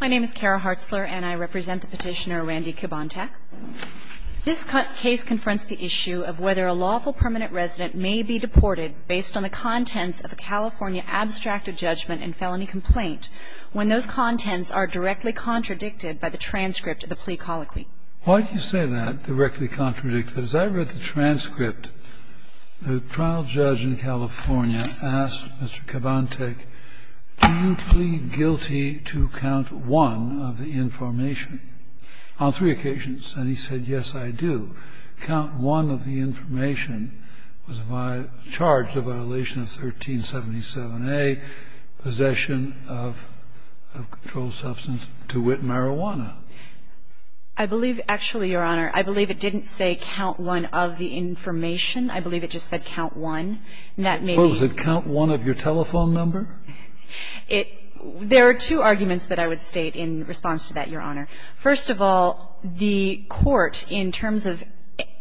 My name is Kara Hartzler and I represent the petitioner Randy Cabantac. This case confronts the issue of whether a lawful permanent resident may be deported based on the contents of a California abstracted judgment and felony complaint when those contents are directly contradicted by the transcript of the plea colloquy. Why do you say that, directly contradict, that as I read the transcript the trial judge in California asked Mr. Cabantac, do you plead guilty to count one of the information on three occasions? And he said, yes, I do. Count one of the information was charged a violation of 1377A, possession of a controlled substance to wit marijuana. I believe, actually, Your Honor, I believe it didn't say count one of the information. I believe it just said count one. That may be. What was it, count one of your telephone number? There are two arguments that I would state in response to that, Your Honor. First of all, the court, in terms of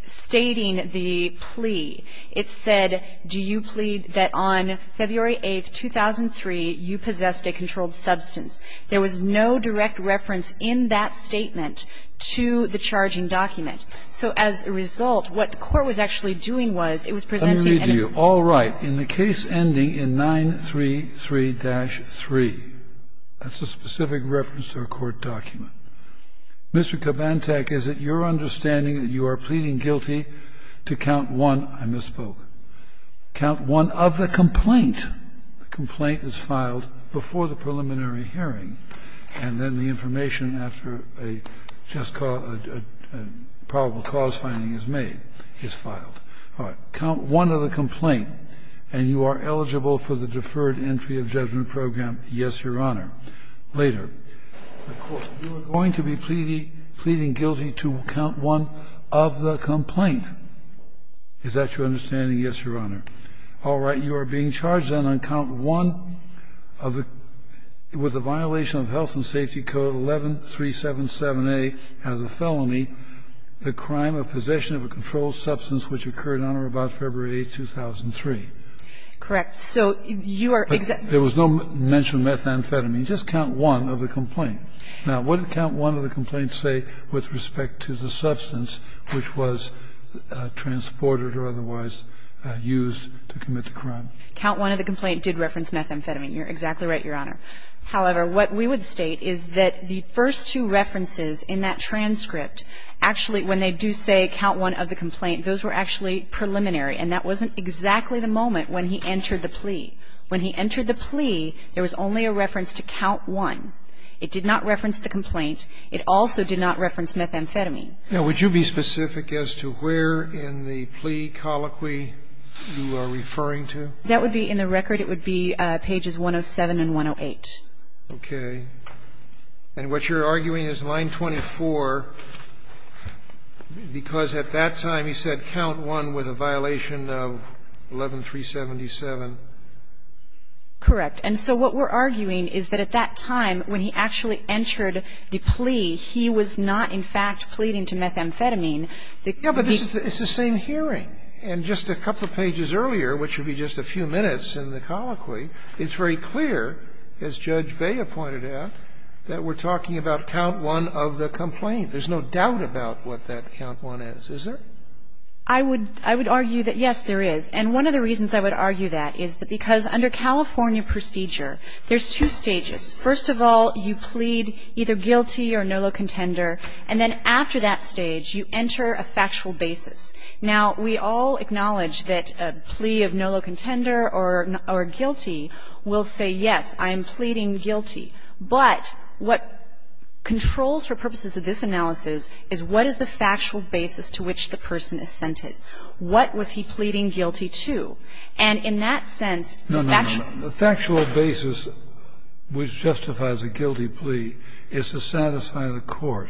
stating the plea, it said, do you plead that on February 8th, 2003, you possessed a controlled substance. There was no direct reference in that statement to the charging document. So as a result, what the court was actually doing was, it was presenting a new case. Let me read to you. All right. In the case ending in 933-3, that's a specific reference to a court document. Mr. Cabantac, is it your understanding that you are pleading guilty to count one of the complaint? The complaint is filed before the preliminary hearing, and then the information after a probable cause finding is made is filed. All right. Count one of the complaint, and you are eligible for the deferred entry of judgment program, yes, Your Honor. Later, the court, you are going to be pleading guilty to count one of the complaint. Is that your understanding? Yes, Your Honor. All right. You are being charged, then, on count one of the, with the violation of Health and Safety Code 11377A as a felony, the crime of possession of a controlled substance which occurred on or about February 8th, 2003. Correct. So you are exactly There was no mention of methamphetamine. Just count one of the complaint. Now, what did count one of the complaints say with respect to the substance which was transported or otherwise used to commit the crime? Count one of the complaint did reference methamphetamine. You are exactly right, Your Honor. However, what we would state is that the first two references in that transcript actually, when they do say count one of the complaint, those were actually preliminary, and that wasn't exactly the moment when he entered the plea. When he entered the plea, there was only a reference to count one. It did not reference the complaint. It also did not reference methamphetamine. Now, would you be specific as to where in the plea colloquy you are referring to? That would be in the record. It would be pages 107 and 108. Okay. And what you're arguing is line 24, because at that time he said count one with a violation of 11377. Correct. And so what we're arguing is that at that time, when he actually entered the plea, he was not, in fact, pleading to methamphetamine. Yeah, but this is the same hearing. And just a couple of pages earlier, which would be just a few minutes in the colloquy, it's very clear, as Judge Bea pointed out, that we're talking about count one of the complaint. There's no doubt about what that count one is. Is there? I would argue that, yes, there is. And one of the reasons I would argue that is because under California procedure, there's two stages. First of all, you plead either guilty or nolo contender. And then after that stage, you enter a factual basis. Now, we all acknowledge that a plea of nolo contender or guilty will say, yes, I am pleading guilty. But what controls, for purposes of this analysis, is what is the factual basis to which the person is centered. What was he pleading guilty to? And in that sense, the factual basis. The factual basis which justifies a guilty plea is to satisfy the court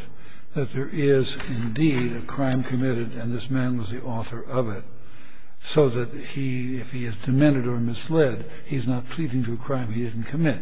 that there is indeed a crime committed and this man was the author of it, so that he, if he is demented or misled, he's not pleading to a crime he didn't commit.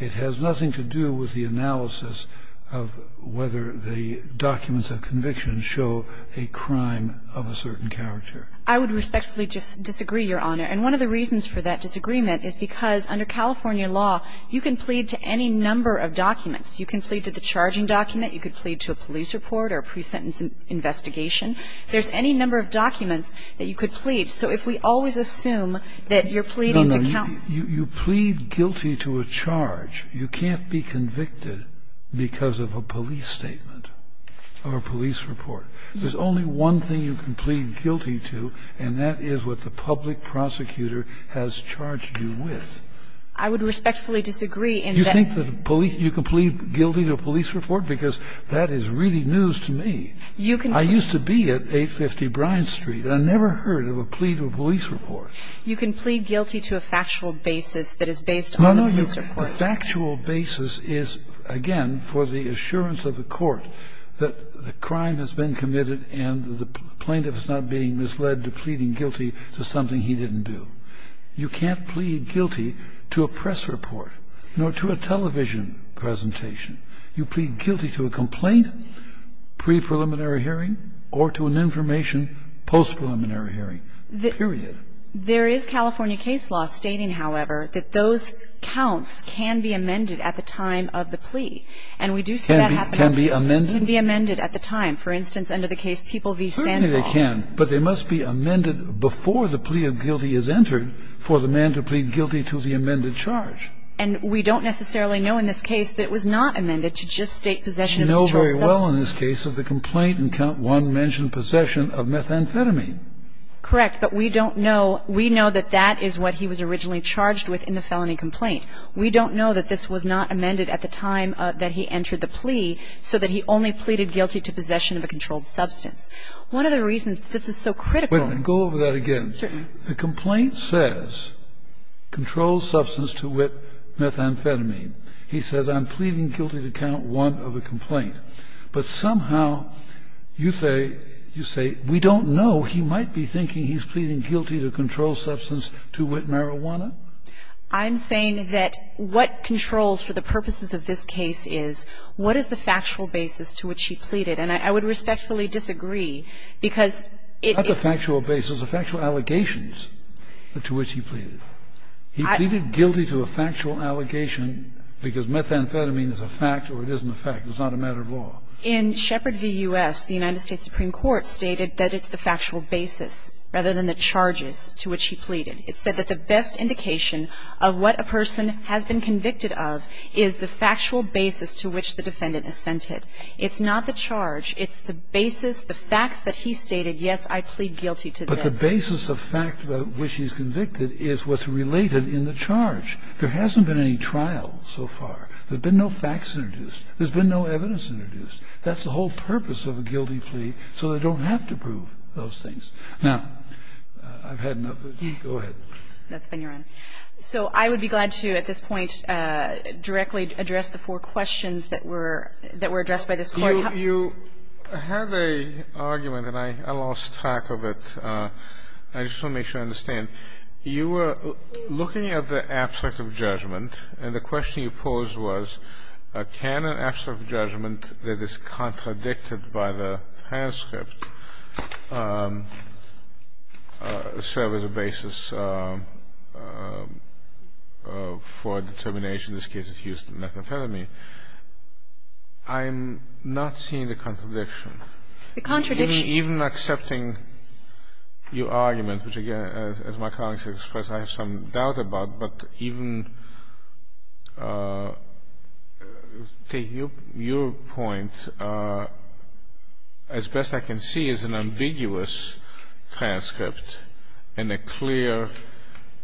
It has nothing to do with the analysis of whether the documents of conviction show a crime of a certain character. I would respectfully just disagree, Your Honor. And one of the reasons for that disagreement is because under California law, you can plead to any number of documents. You can plead to the charging document. You could plead to a police report or a pre-sentence investigation. There's any number of documents that you could plead. So if we always assume that you're pleading to countenance. You plead guilty to a charge. You can't be convicted because of a police statement or a police report. There's only one thing you can plead guilty to, and that is what the public prosecutor has charged you with. I would respectfully disagree in that. You think that police you can plead guilty to a police report? Because that is really news to me. You can. I used to be at 850 Bryant Street. I never heard of a plea to a police report. You can plead guilty to a factual basis that is based on a police report. No, no. The factual basis is, again, for the assurance of the court that the crime has been committed and the plaintiff is not being misled to pleading guilty to something he didn't do. You can't plead guilty to a press report nor to a television presentation. You plead guilty to a complaint, pre-preliminary hearing, or to an information post-preliminary hearing, period. There is California case law stating, however, that those counts can be amended at the time of the plea. And we do see that happening. Can be amended? Can be amended at the time. For instance, under the case People v. Sandhoff. Certainly they can, but they must be amended before the plea of guilty is entered for the man to plead guilty to the amended charge. And we don't necessarily know in this case that it was not amended to just state possession of a controlled substance. We know very well in this case of the complaint in Count 1 mentioned possession of methamphetamine. Correct. But we don't know. We know that that is what he was originally charged with in the felony complaint. We don't know that this was not amended at the time that he entered the plea so that he only pleaded guilty to possession of a controlled substance. One of the reasons that this is so critical. Go over that again. Certainly. The complaint says controlled substance to wit, methamphetamine. He says I'm pleading guilty to Count 1 of the complaint. But somehow you say, you say, we don't know. He might be thinking he's pleading guilty to controlled substance to wit marijuana. I'm saying that what controls for the purposes of this case is what is the factual basis to which he pleaded. And I would respectfully disagree, because it is. Not the factual basis. The factual allegations to which he pleaded. He pleaded guilty to a factual allegation because methamphetamine is a fact or it isn't a fact. It's not a matter of law. In Shepard v. U.S., the United States Supreme Court stated that it's the factual basis rather than the charges to which he pleaded. It said that the best indication of what a person has been convicted of is the factual basis to which the defendant assented. It's not the charge. It's the basis, the facts that he stated, yes, I plead guilty to this. But the basis of fact which he's convicted is what's related in the charge. There hasn't been any trial so far. There's been no facts introduced. There's been no evidence introduced. That's the whole purpose of a guilty plea, so they don't have to prove those things. Now, I've had enough. Go ahead. That's been your end. So I would be glad to, at this point, directly address the four questions that were addressed by this Court. You had an argument, and I lost track of it. I just want to make sure I understand. I mean, you were looking at the abstract of judgment, and the question you posed was can an abstract of judgment that is contradicted by the transcript serve as a basis for determination, in this case it's Houston Method Academy. I'm not seeing the contradiction. The contradiction. Even accepting your argument, which, again, as my colleagues have expressed, I have some doubt about, but even to your point, as best I can see, is an ambiguous transcript in a clear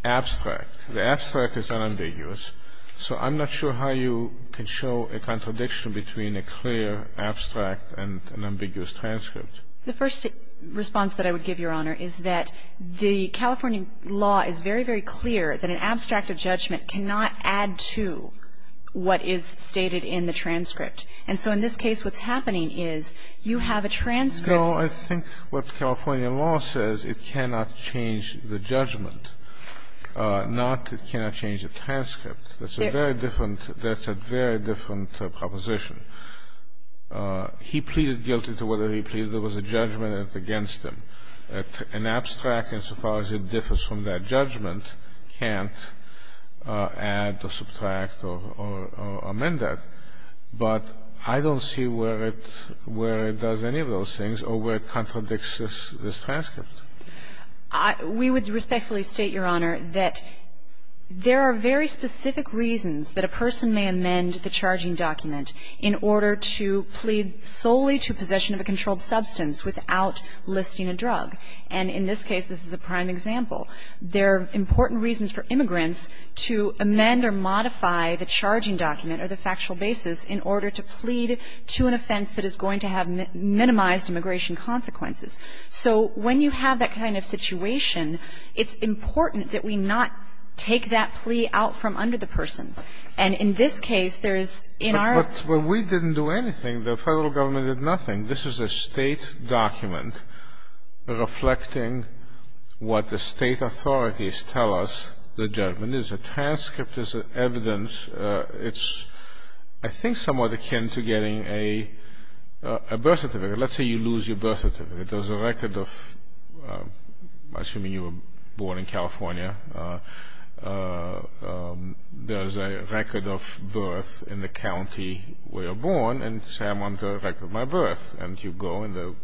abstract. The abstract is unambiguous. So I'm not sure how you can show a contradiction between a clear abstract and an ambiguous transcript. The first response that I would give, Your Honor, is that the California law is very, very clear that an abstract of judgment cannot add to what is stated in the transcript. And so in this case, what's happening is you have a transcript. No, I think what California law says, it cannot change the judgment, not it cannot change the transcript. That's a very different proposition. He pleaded guilty to whatever he pleaded. There was a judgment against him. An abstract, insofar as it differs from that judgment, can't add or subtract or amend that. But I don't see where it does any of those things or where it contradicts this transcript. We would respectfully state, Your Honor, that there are very specific reasons that a person may amend the charging document in order to plead solely to possession of a controlled substance without listing a drug. And in this case, this is a prime example. There are important reasons for immigrants to amend or modify the charging document or the factual basis in order to plead to an offense that is going to have minimized immigration consequences. So when you have that kind of situation, it's important that we not take that plea out from under the person. And in this case, there is, in our But we didn't do anything. The Federal Government did nothing. This is a State document reflecting what the State authorities tell us the judgment is. The transcript is evidence. It's, I think, somewhat akin to getting a birth certificate. Let's say you lose your birth certificate. There's a record of, assuming you were born in California, there's a record of birth in the county where you were born, and say, I want the record of my birth. And you go, and the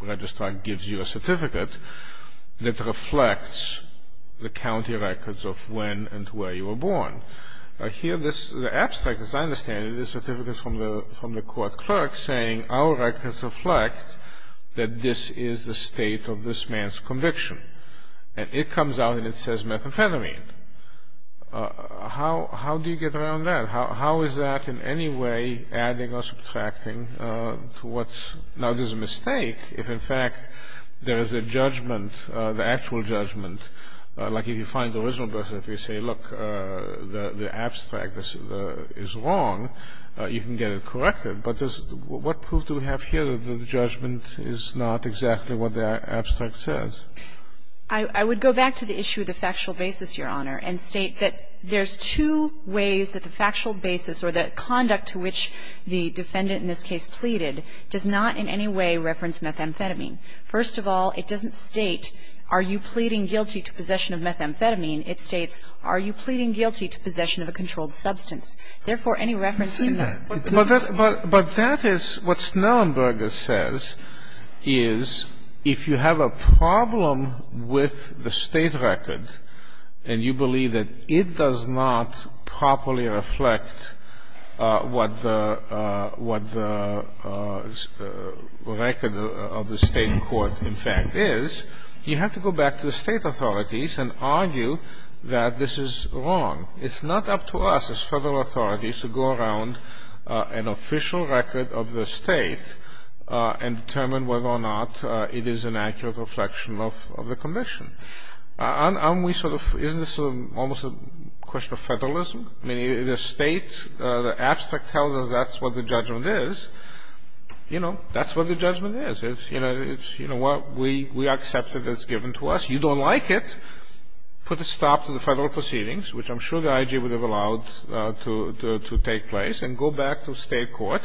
registrar gives you a certificate that reflects the county records of when and where you were born. Here, the abstract, as I understand it, is a certificate from the court clerk saying, Our records reflect that this is the state of this man's conviction. And it comes out and it says methamphetamine. How do you get around that? How is that in any way adding or subtracting to what's, now there's a mistake, if in fact there is a judgment, the actual judgment. Like if you find the original birth certificate, you say, look, the abstract is wrong. You can get it corrected. But what proof do we have here that the judgment is not exactly what the abstract says? I would go back to the issue of the factual basis, Your Honor, and state that there's two ways that the factual basis or the conduct to which the defendant in this case pleaded does not in any way reference methamphetamine. First of all, it doesn't state, are you pleading guilty to possession of methamphetamine? It states, are you pleading guilty to possession of a controlled substance? Therefore, any reference to that. But that is what Snellenberger says is if you have a problem with the state record and you believe that it does not properly reflect what the record of the state court in fact is, you have to go back to the state authorities and argue that this is wrong. It's not up to us as federal authorities to go around an official record of the state and determine whether or not it is an accurate reflection of the conviction. Aren't we sort of, isn't this almost a question of federalism? I mean, the state, the abstract tells us that's what the judgment is. You know, that's what the judgment is. It's, you know, we accept it as given to us. You don't like it. You put a stop to the federal proceedings, which I'm sure the IG would have allowed to take place, and go back to state court,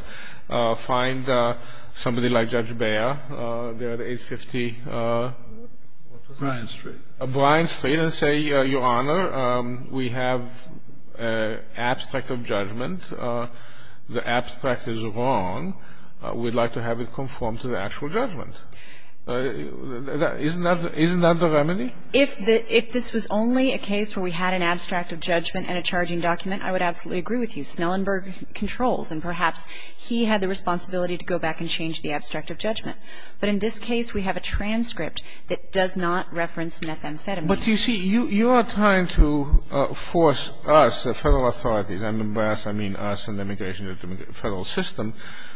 find somebody like Judge Beyer, the 850. What was it? Bryan Street. Bryan Street, and say, Your Honor, we have an abstract of judgment. The abstract is wrong. We'd like to have it conform to the actual judgment. Isn't that the remedy? If this was only a case where we had an abstract of judgment and a charging document, I would absolutely agree with you. Snellenberg controls, and perhaps he had the responsibility to go back and change the abstract of judgment. But in this case, we have a transcript that does not reference methamphetamine. But, you see, you are trying to force us, the federal authorities, and by us, I mean us and the immigration and federal system,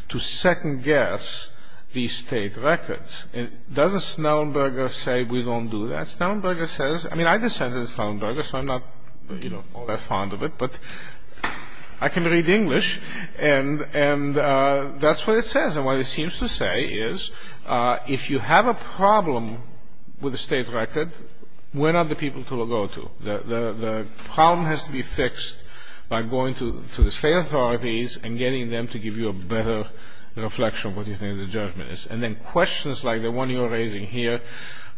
to second-guess these state records. Doesn't Snellenberger say we don't do that? Snellenberger says — I mean, I descended from Snellenberger, so I'm not, you know, all that fond of it, but I can read English, and that's what it says. And what it seems to say is if you have a problem with a state record, we're not the people to look over to. The problem has to be fixed by going to the state authorities and getting them to give you a better reflection of what you think the judgment is. And then questions like the one you're raising here,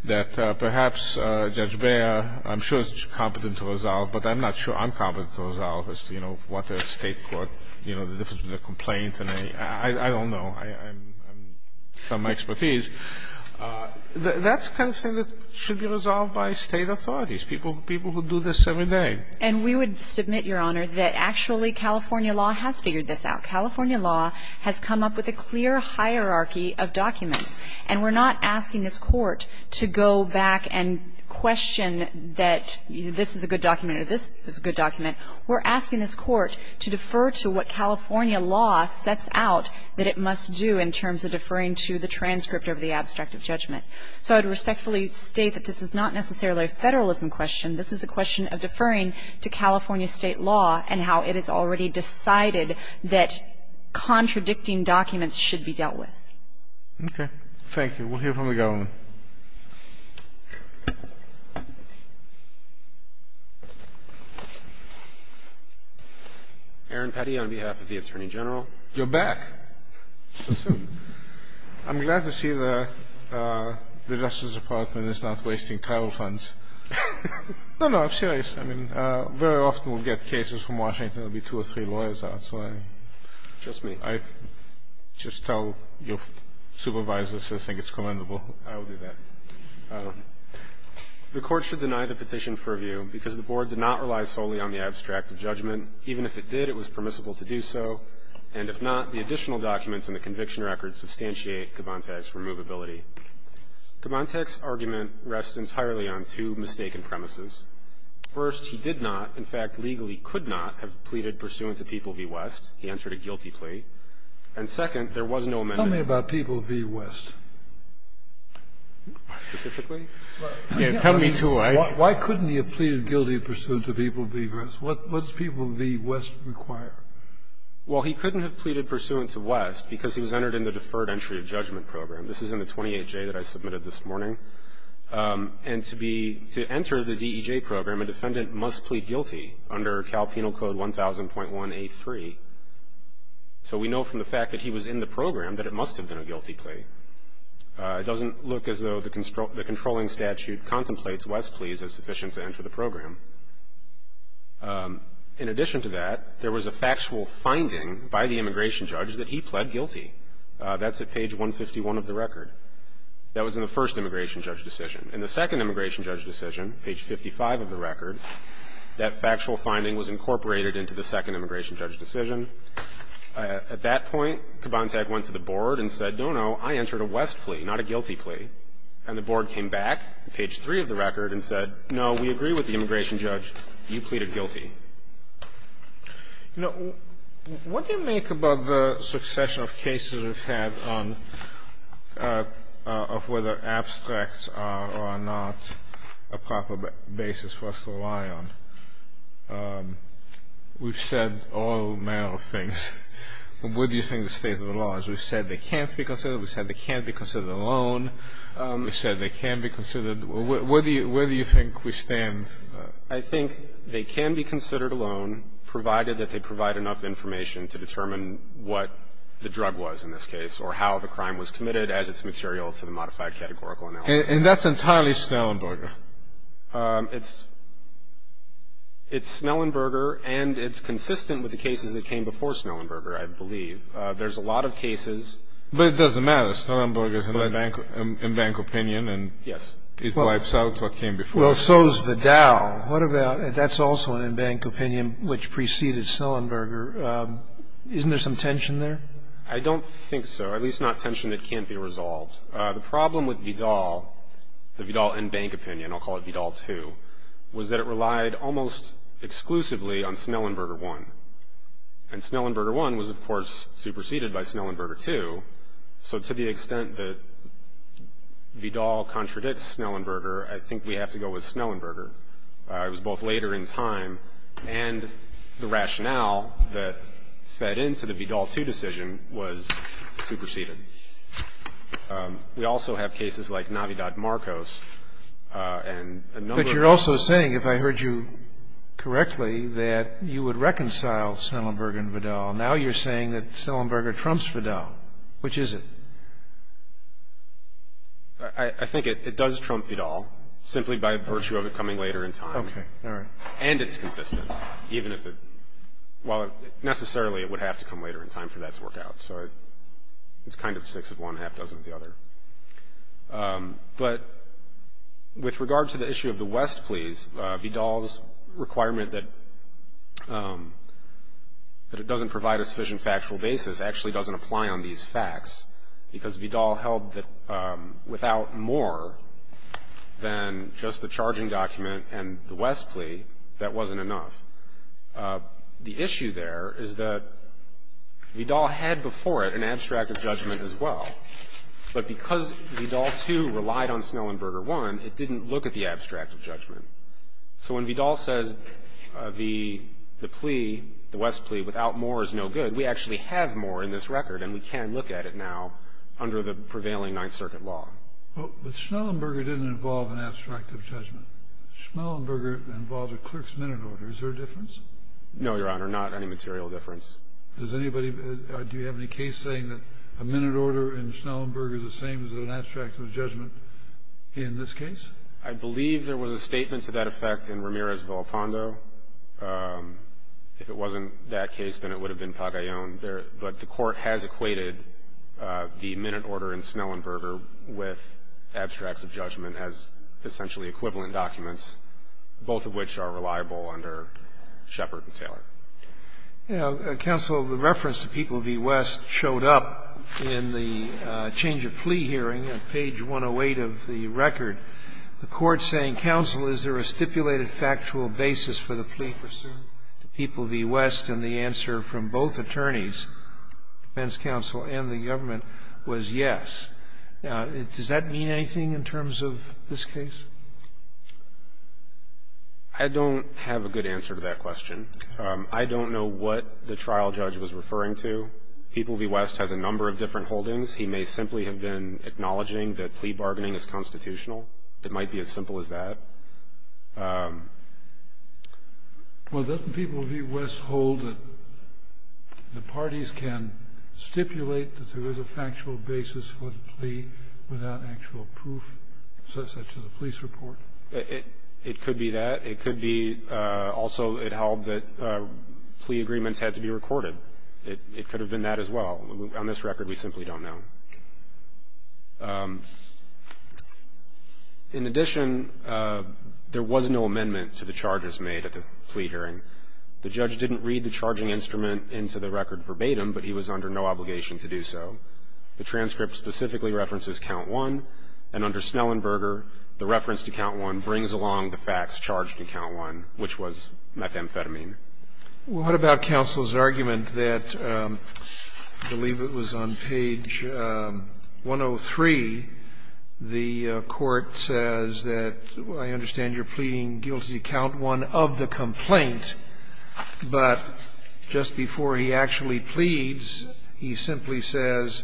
that perhaps Judge Beyer, I'm sure, is competent to resolve, but I'm not sure I'm competent to resolve as to, you know, what a state court, you know, the difference between a complaint and a — I don't know. I'm — I'm from my expertise. That's the kind of thing that should be resolved by state authorities, people — people who do this every day. And we would submit, Your Honor, that actually California law has figured this out. California law has come up with a clear hierarchy of documents. And we're not asking this Court to go back and question that this is a good document or this is a good document. We're asking this Court to defer to what California law sets out that it must do in terms of deferring to the transcript of the abstract of judgment. So I would respectfully state that this is not necessarily a federalism question. This is a question of deferring to California state law and how it has already decided that contradicting documents should be dealt with. Okay. Thank you. We'll hear from the government. Aaron Petty on behalf of the Attorney General. You're back. So soon. I'm glad to see the Justice Department is not wasting travel funds. No, no, I'm serious. I mean, very often we'll get cases from Washington. There will be two or three lawyers out, so I just tell your supervisors I think it's commendable. I'll do that. The Court should deny the petition for review because the Board did not rely solely on the abstract of judgment. Even if it did, it was permissible to do so. And if not, the additional documents in the conviction record substantiate Kubantek's removability. Kubantek's argument rests entirely on two mistaken premises. First, he did not, in fact legally could not, have pleaded pursuant to People v. West. He entered a guilty plea. And second, there was no amendment. Tell me about People v. West. Specifically? Tell me two ways. Why couldn't he have pleaded guilty pursuant to People v. West? What does People v. West require? Well, he couldn't have pleaded pursuant to West because he was entered in the deferred entry of judgment program. This is in the 28J that I submitted this morning. And to enter the DEJ program, a defendant must plead guilty under Cal Penal Code 1000.1A3. So we know from the fact that he was in the program that it must have been a guilty plea. It doesn't look as though the controlling statute contemplates West's pleas as sufficient to enter the program. In addition to that, there was a factual finding by the immigration judge that he pled guilty. That's at page 151 of the record. That was in the first immigration judge decision. In the second immigration judge decision, page 55 of the record, that factual finding was incorporated into the second immigration judge decision. At that point, Kubantag went to the board and said, no, no, I entered a West plea, not a guilty plea. And the board came back, page 3 of the record, and said, no, we agree with the immigration You pleaded guilty. You know, what do you make about the succession of cases we've had on of whether abstracts are or are not a proper basis for us to rely on? We've said all manner of things. Where do you think the state of the law is? We've said they can't be considered. We've said they can't be considered alone. We've said they can be considered. Where do you think we stand? I think they can be considered alone, provided that they provide enough information to determine what the drug was, in this case, or how the crime was committed as its material to the modified categorical analysis. And that's entirely Snellenberger? It's Snellenberger, and it's consistent with the cases that came before Snellenberger, I believe. There's a lot of cases. But it doesn't matter. Snellenberger is a bank opinion, and it wipes out what came before. Well, so is Vidal. That's also an in-bank opinion which preceded Snellenberger. Isn't there some tension there? I don't think so, at least not tension that can't be resolved. The problem with Vidal, the Vidal in-bank opinion, I'll call it Vidal II, was that it relied almost exclusively on Snellenberger I. And Snellenberger I was, of course, superseded by Snellenberger II. So to the extent that Vidal contradicts Snellenberger, I think we have to go with Snellenberger. It was both later in time and the rationale that fed into the Vidal II decision was superseded. We also have cases like Navidad Marcos and a number of others. But you're also saying, if I heard you correctly, that you would reconcile Snellenberger and Vidal. Now you're saying that Snellenberger trumps Vidal. Which is it? I think it does trump Vidal, simply by virtue of it coming later in time. Okay, all right. And it's consistent, even if it – well, necessarily it would have to come later in time for that to work out. So it's kind of a six of one, half dozen of the other. But with regard to the issue of the West pleas, Vidal's requirement that it doesn't provide a sufficient factual basis actually doesn't apply on these facts, because Vidal held that without more than just the charging document and the West plea, that wasn't enough. The issue there is that Vidal had before it an abstract of judgment as well. But because Vidal, too, relied on Snellenberger I, it didn't look at the abstract of judgment. So when Vidal says the plea, the West plea, without more is no good, we actually have more in this record, and we can look at it now under the prevailing Ninth Circuit law. But Snellenberger didn't involve an abstract of judgment. Snellenberger involved a clerk's minute order. Is there a difference? No, Your Honor, not any material difference. Does anybody, do you have any case saying that a minute order in Snellenberger is the same as an abstract of judgment in this case? I believe there was a statement to that effect in Ramirez-Villapando. If it wasn't that case, then it would have been Pagayon. But the Court has equated the minute order in Snellenberger with abstracts of judgment as essentially equivalent documents, both of which are reliable under Shepard and Taylor. Yeah. Counsel, the reference to people v. West showed up in the change of plea hearing on page 108 of the record. The Court saying, Counsel, is there a stipulated factual basis for the plea pursuant to people v. West? And the answer from both attorneys, defense counsel and the government, was yes. Does that mean anything in terms of this case? I don't have a good answer to that question. I don't know what the trial judge was referring to. People v. West has a number of different holdings. He may simply have been acknowledging that plea bargaining is constitutional. It might be as simple as that. Well, doesn't people v. West hold that the parties can stipulate that there is a factual basis for the plea without actual proof, such as a police report? It could be that. It could be also it held that plea agreements had to be recorded. It could have been that as well. On this record, we simply don't know. In addition, there was no amendment to the charges made at the plea hearing. The judge didn't read the charging instrument into the record verbatim, but he was under no obligation to do so. The transcript specifically references count one, and under Snellenberger, the reference to count one brings along the facts charged in count one, which was methamphetamine. Well, what about counsel's argument that, I believe it was on page 103, the court says that I understand you're pleading guilty to count one of the complaint, but just before he actually pleads, he simply says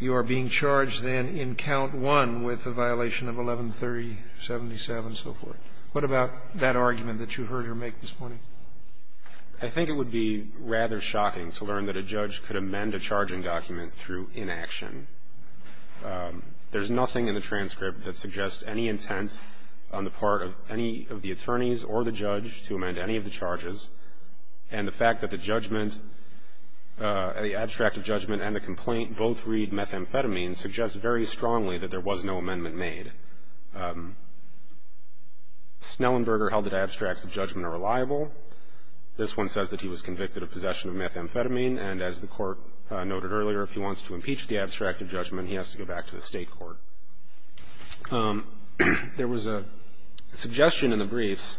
you are being charged then in count one with a violation of 1130.77 and so forth. What about that argument that you heard her make this morning? I think it would be rather shocking to learn that a judge could amend a charging document through inaction. There's nothing in the transcript that suggests any intent on the part of any of the attorneys or the judge to amend any of the charges. And the fact that the judgment, the abstract of judgment and the complaint both read methamphetamine suggests very strongly that there was no amendment made. Snellenberger held that abstracts of judgment are reliable. This one says that he was convicted of possession of methamphetamine. And as the court noted earlier, if he wants to impeach the abstract of judgment, he has to go back to the state court. There was a suggestion in the briefs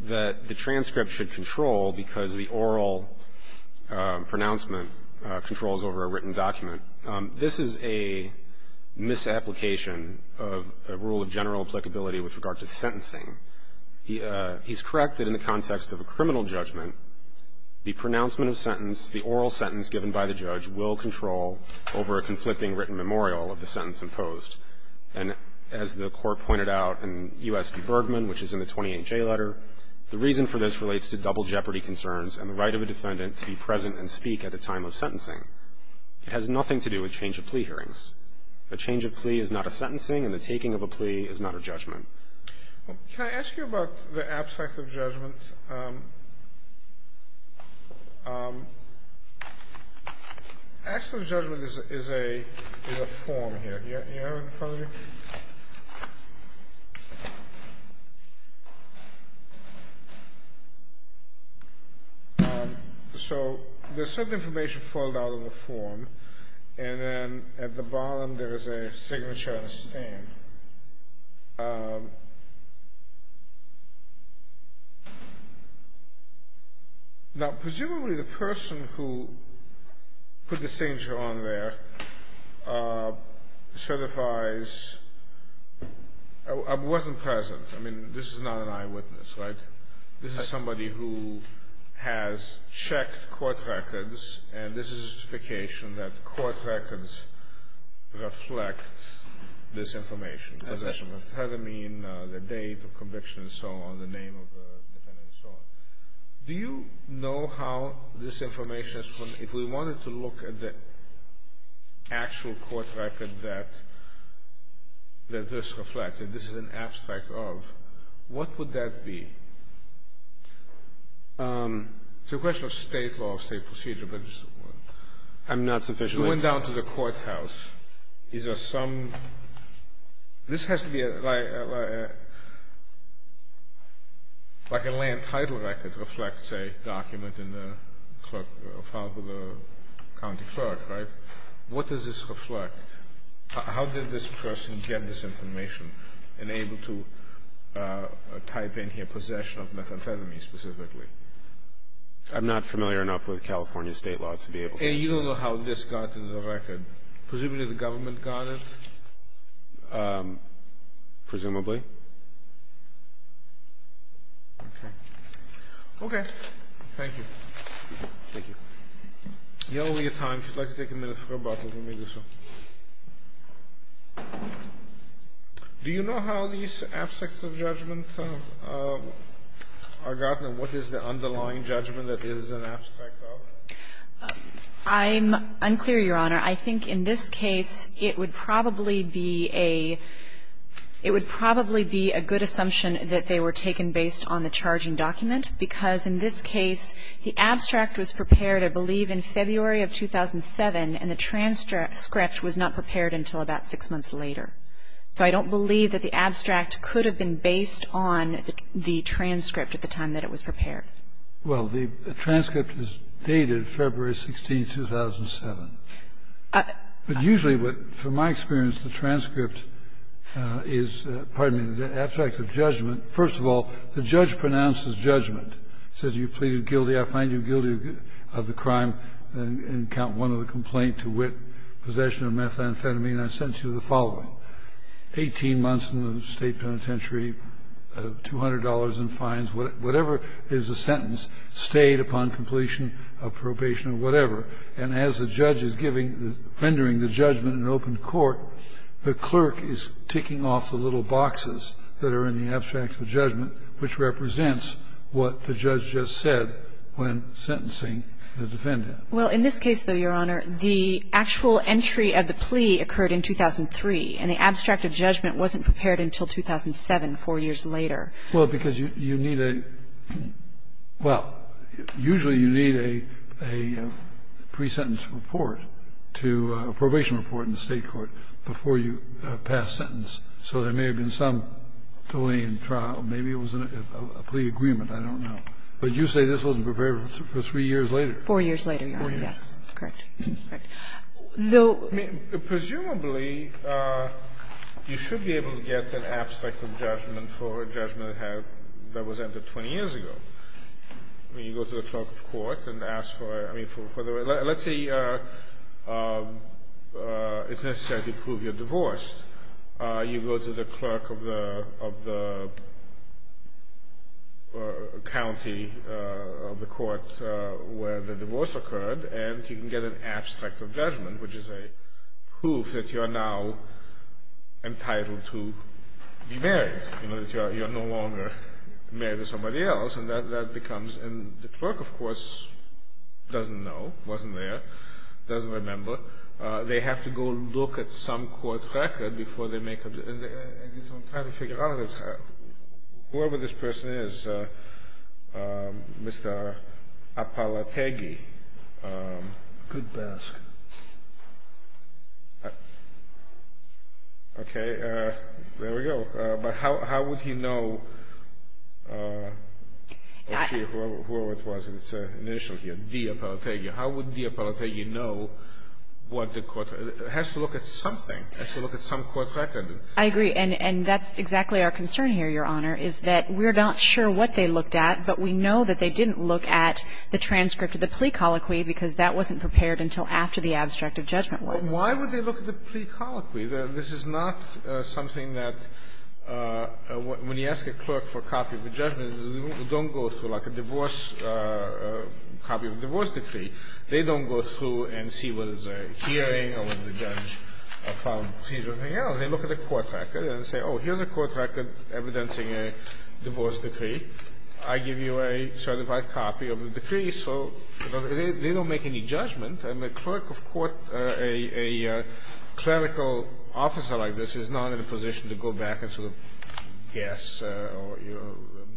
that the transcript should control because the This is a misapplication of a rule of general applicability with regard to sentencing. He's correct that in the context of a criminal judgment, the pronouncement of sentence, the oral sentence given by the judge will control over a conflicting written memorial of the sentence imposed. And as the court pointed out in U.S. v. Bergman, which is in the 28J letter, the reason for this relates to double jeopardy concerns and the right of a defendant to be present and speak at the time of sentencing. It has nothing to do with change of plea hearings. A change of plea is not a sentencing, and the taking of a plea is not a judgment. Can I ask you about the abstracts of judgment? Abstracts of judgment is a form here. Do you have it in front of you? Okay. So there's some information foiled out in the form, and then at the bottom there is a signature on a stand. Now, presumably the person who put the signature on there certifies, wasn't present. I mean, this is not an eyewitness, right? This is somebody who has checked court records, and this is a certification that court records reflect this information. Possession of methamphetamine, the date of conviction and so on, the name of the defendant and so on. Do you know how this information is, if we wanted to look at the actual court record that this reflects, that this is an abstract of, what would that be? It's a question of state law, state procedure. I'm not sufficiently informed. I went down to the courthouse. These are some, this has to be, like a land title record reflects a document filed with a county clerk, right? What does this reflect? How did this person get this information and able to type in here possession of methamphetamine specifically? I'm not familiar enough with California state law to be able to answer that. And you don't know how this got into the record? Presumably the government got it? Presumably. Okay. Okay. Thank you. Thank you. You owe me your time. If you'd like to take a minute for a bottle, give me this one. Do you know how these abstracts of judgment are gotten and what is the underlying judgment that this is an abstract of? I'm unclear, Your Honor. I think in this case it would probably be a good assumption that they were taken based on the charging document, because in this case the abstract was prepared, I believe, in February of 2007, and the transcript was not prepared until about six months later. So I don't believe that the abstract could have been based on the transcript at the time that it was prepared. Well, the transcript is dated February 16, 2007. But usually what, from my experience, the transcript is, pardon me, the abstract of judgment, first of all, the judge pronounces judgment. He says you've pleaded guilty. I find you guilty of the crime and count one of the complaint to wit, possession of methamphetamine, and I sentence you to the following. Eighteen months in the state penitentiary, $200 in fines, whatever is the sentence, stayed upon completion of probation or whatever. And as the judge is rendering the judgment in open court, the clerk is ticking off the little boxes that are in the abstract of judgment, which represents what the judge just said when sentencing the defendant. Well, in this case, though, Your Honor, the actual entry of the plea occurred in 2003, and the abstract of judgment wasn't prepared until 2007, four years later. Well, because you need a – well, usually you need a pre-sentence report to – a probation report in the State court before you pass sentence. So there may have been some delay in trial. Maybe it was a plea agreement. I don't know. But you say this wasn't prepared for three years later. Four years later, Your Honor. Four years. Yes. Correct. Correct. The – I mean, presumably, you should be able to get an abstract of judgment for a judgment that had – that was entered 20 years ago. I mean, you go to the clerk of court and ask for – I mean, for the – let's say it's necessary to prove you're divorced. You go to the clerk of the – of the county of the court where the divorce occurred, and you can get an abstract of judgment, which is a proof that you are now entitled to be And the clerk, of course, doesn't know. Wasn't there. Doesn't remember. They have to go look at some court record before they make a – I guess I'm trying to figure out if it's – whoever this person is, Mr. Apalategi. Good basket. Okay. There we go. But how would he know – or she, whoever it was in its initial year, D. Apalategi. How would D. Apalategi know what the court – has to look at something. Has to look at some court record. I agree. And that's exactly our concern here, Your Honor, is that we're not sure what they looked at, but we know that they didn't look at the transcript of the plea colloquy because that wasn't prepared until after the abstract of judgment was. Why would they look at the plea colloquy? This is not something that – when you ask a clerk for a copy of a judgment, they don't go through like a divorce – copy of a divorce decree. They don't go through and see whether there's a hearing or whether the judge found a seizure or anything else. They look at the court record and say, oh, here's a court record evidencing a divorce decree. I give you a certified copy of the decree. So they don't make any judgment. And a clerk of court – a clerical officer like this is not in a position to go back and sort of guess or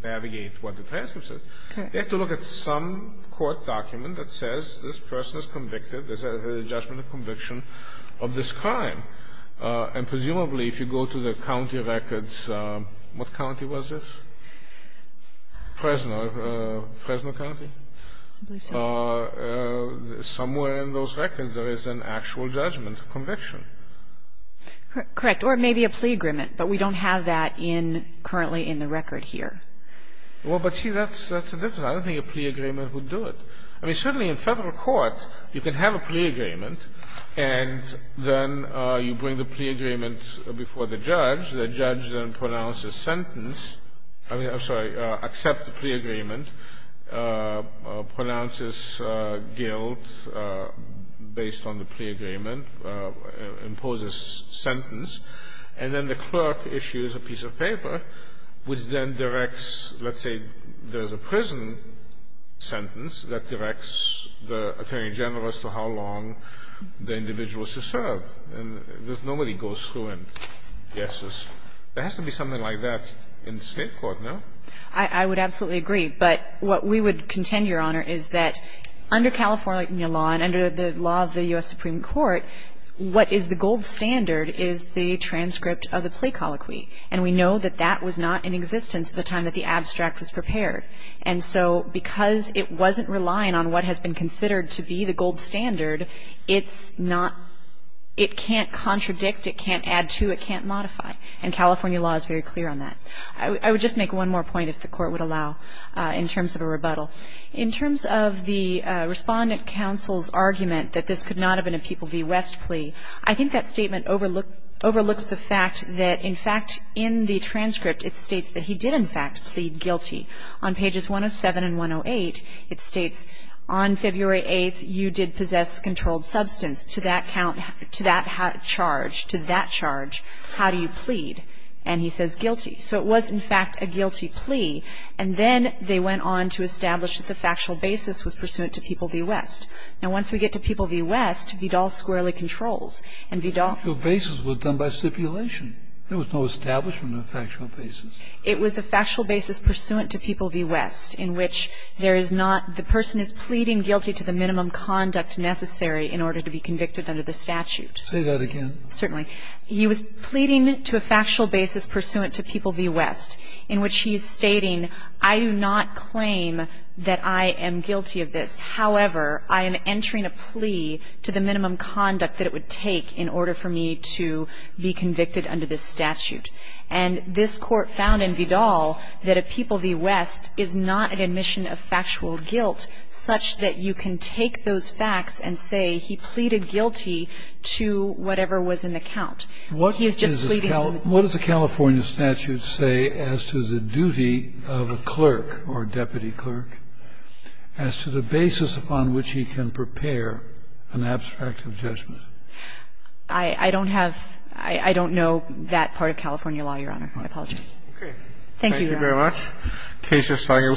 navigate what the transcript says. Okay. They have to look at some court document that says this person is convicted, there's a judgment of conviction of this crime. And presumably if you go to the county records – what county was this? Fresno. Fresno County. I believe so. Somewhere in those records there is an actual judgment of conviction. Correct. Or maybe a plea agreement. But we don't have that in – currently in the record here. Well, but see, that's a difference. I don't think a plea agreement would do it. I mean, certainly in federal court you can have a plea agreement, and then you bring the plea agreement before the judge. The judge then pronounces sentence – I'm sorry, accepts the plea agreement, pronounces guilt based on the plea agreement, imposes sentence, and then the clerk issues a piece of paper which then directs – let's say there's a prison sentence that directs the attorney general as to how long the individual is to serve. And nobody goes through and guesses. There has to be something like that in state court, no? I would absolutely agree. But what we would contend, Your Honor, is that under California law and under the law of the U.S. Supreme Court, what is the gold standard is the transcript of the plea colloquy. And we know that that was not in existence at the time that the abstract was prepared. And so because it wasn't relying on what has been considered to be the gold standard, it's not – it can't contradict, it can't add to, it can't modify. And California law is very clear on that. I would just make one more point, if the Court would allow, in terms of a rebuttal. In terms of the Respondent Counsel's argument that this could not have been a People v. West plea, I think that statement overlooks the fact that, in fact, in the transcript, it states that he did, in fact, plead guilty. On pages 107 and 108, it states, On February 8th, you did possess controlled substance. To that count – to that charge, to that charge, how do you plead? And he says guilty. So it was, in fact, a guilty plea. And then they went on to establish that the factual basis was pursuant to People v. West. Now, once we get to People v. West, Vidal squarely controls. And Vidal – Factual basis was done by stipulation. There was no establishment of factual basis. It was a factual basis pursuant to People v. West in which there is not – a person is pleading guilty to the minimum conduct necessary in order to be convicted under the statute. Say that again. Certainly. He was pleading to a factual basis pursuant to People v. West in which he is stating, I do not claim that I am guilty of this. However, I am entering a plea to the minimum conduct that it would take in order for me to be convicted under this statute. And this Court found in Vidal that a People v. West is not an admission of factual guilt such that you can take those facts and say he pleaded guilty to whatever was in the count. He is just pleading to the minimum. What does the California statute say as to the duty of a clerk or deputy clerk as to the basis upon which he can prepare an abstract of judgment? I don't have – I don't know that part of California law, Your Honor. I apologize. Thank you, Your Honor. Thank you very much. The case is filed and will stand submitted. We are adjourned.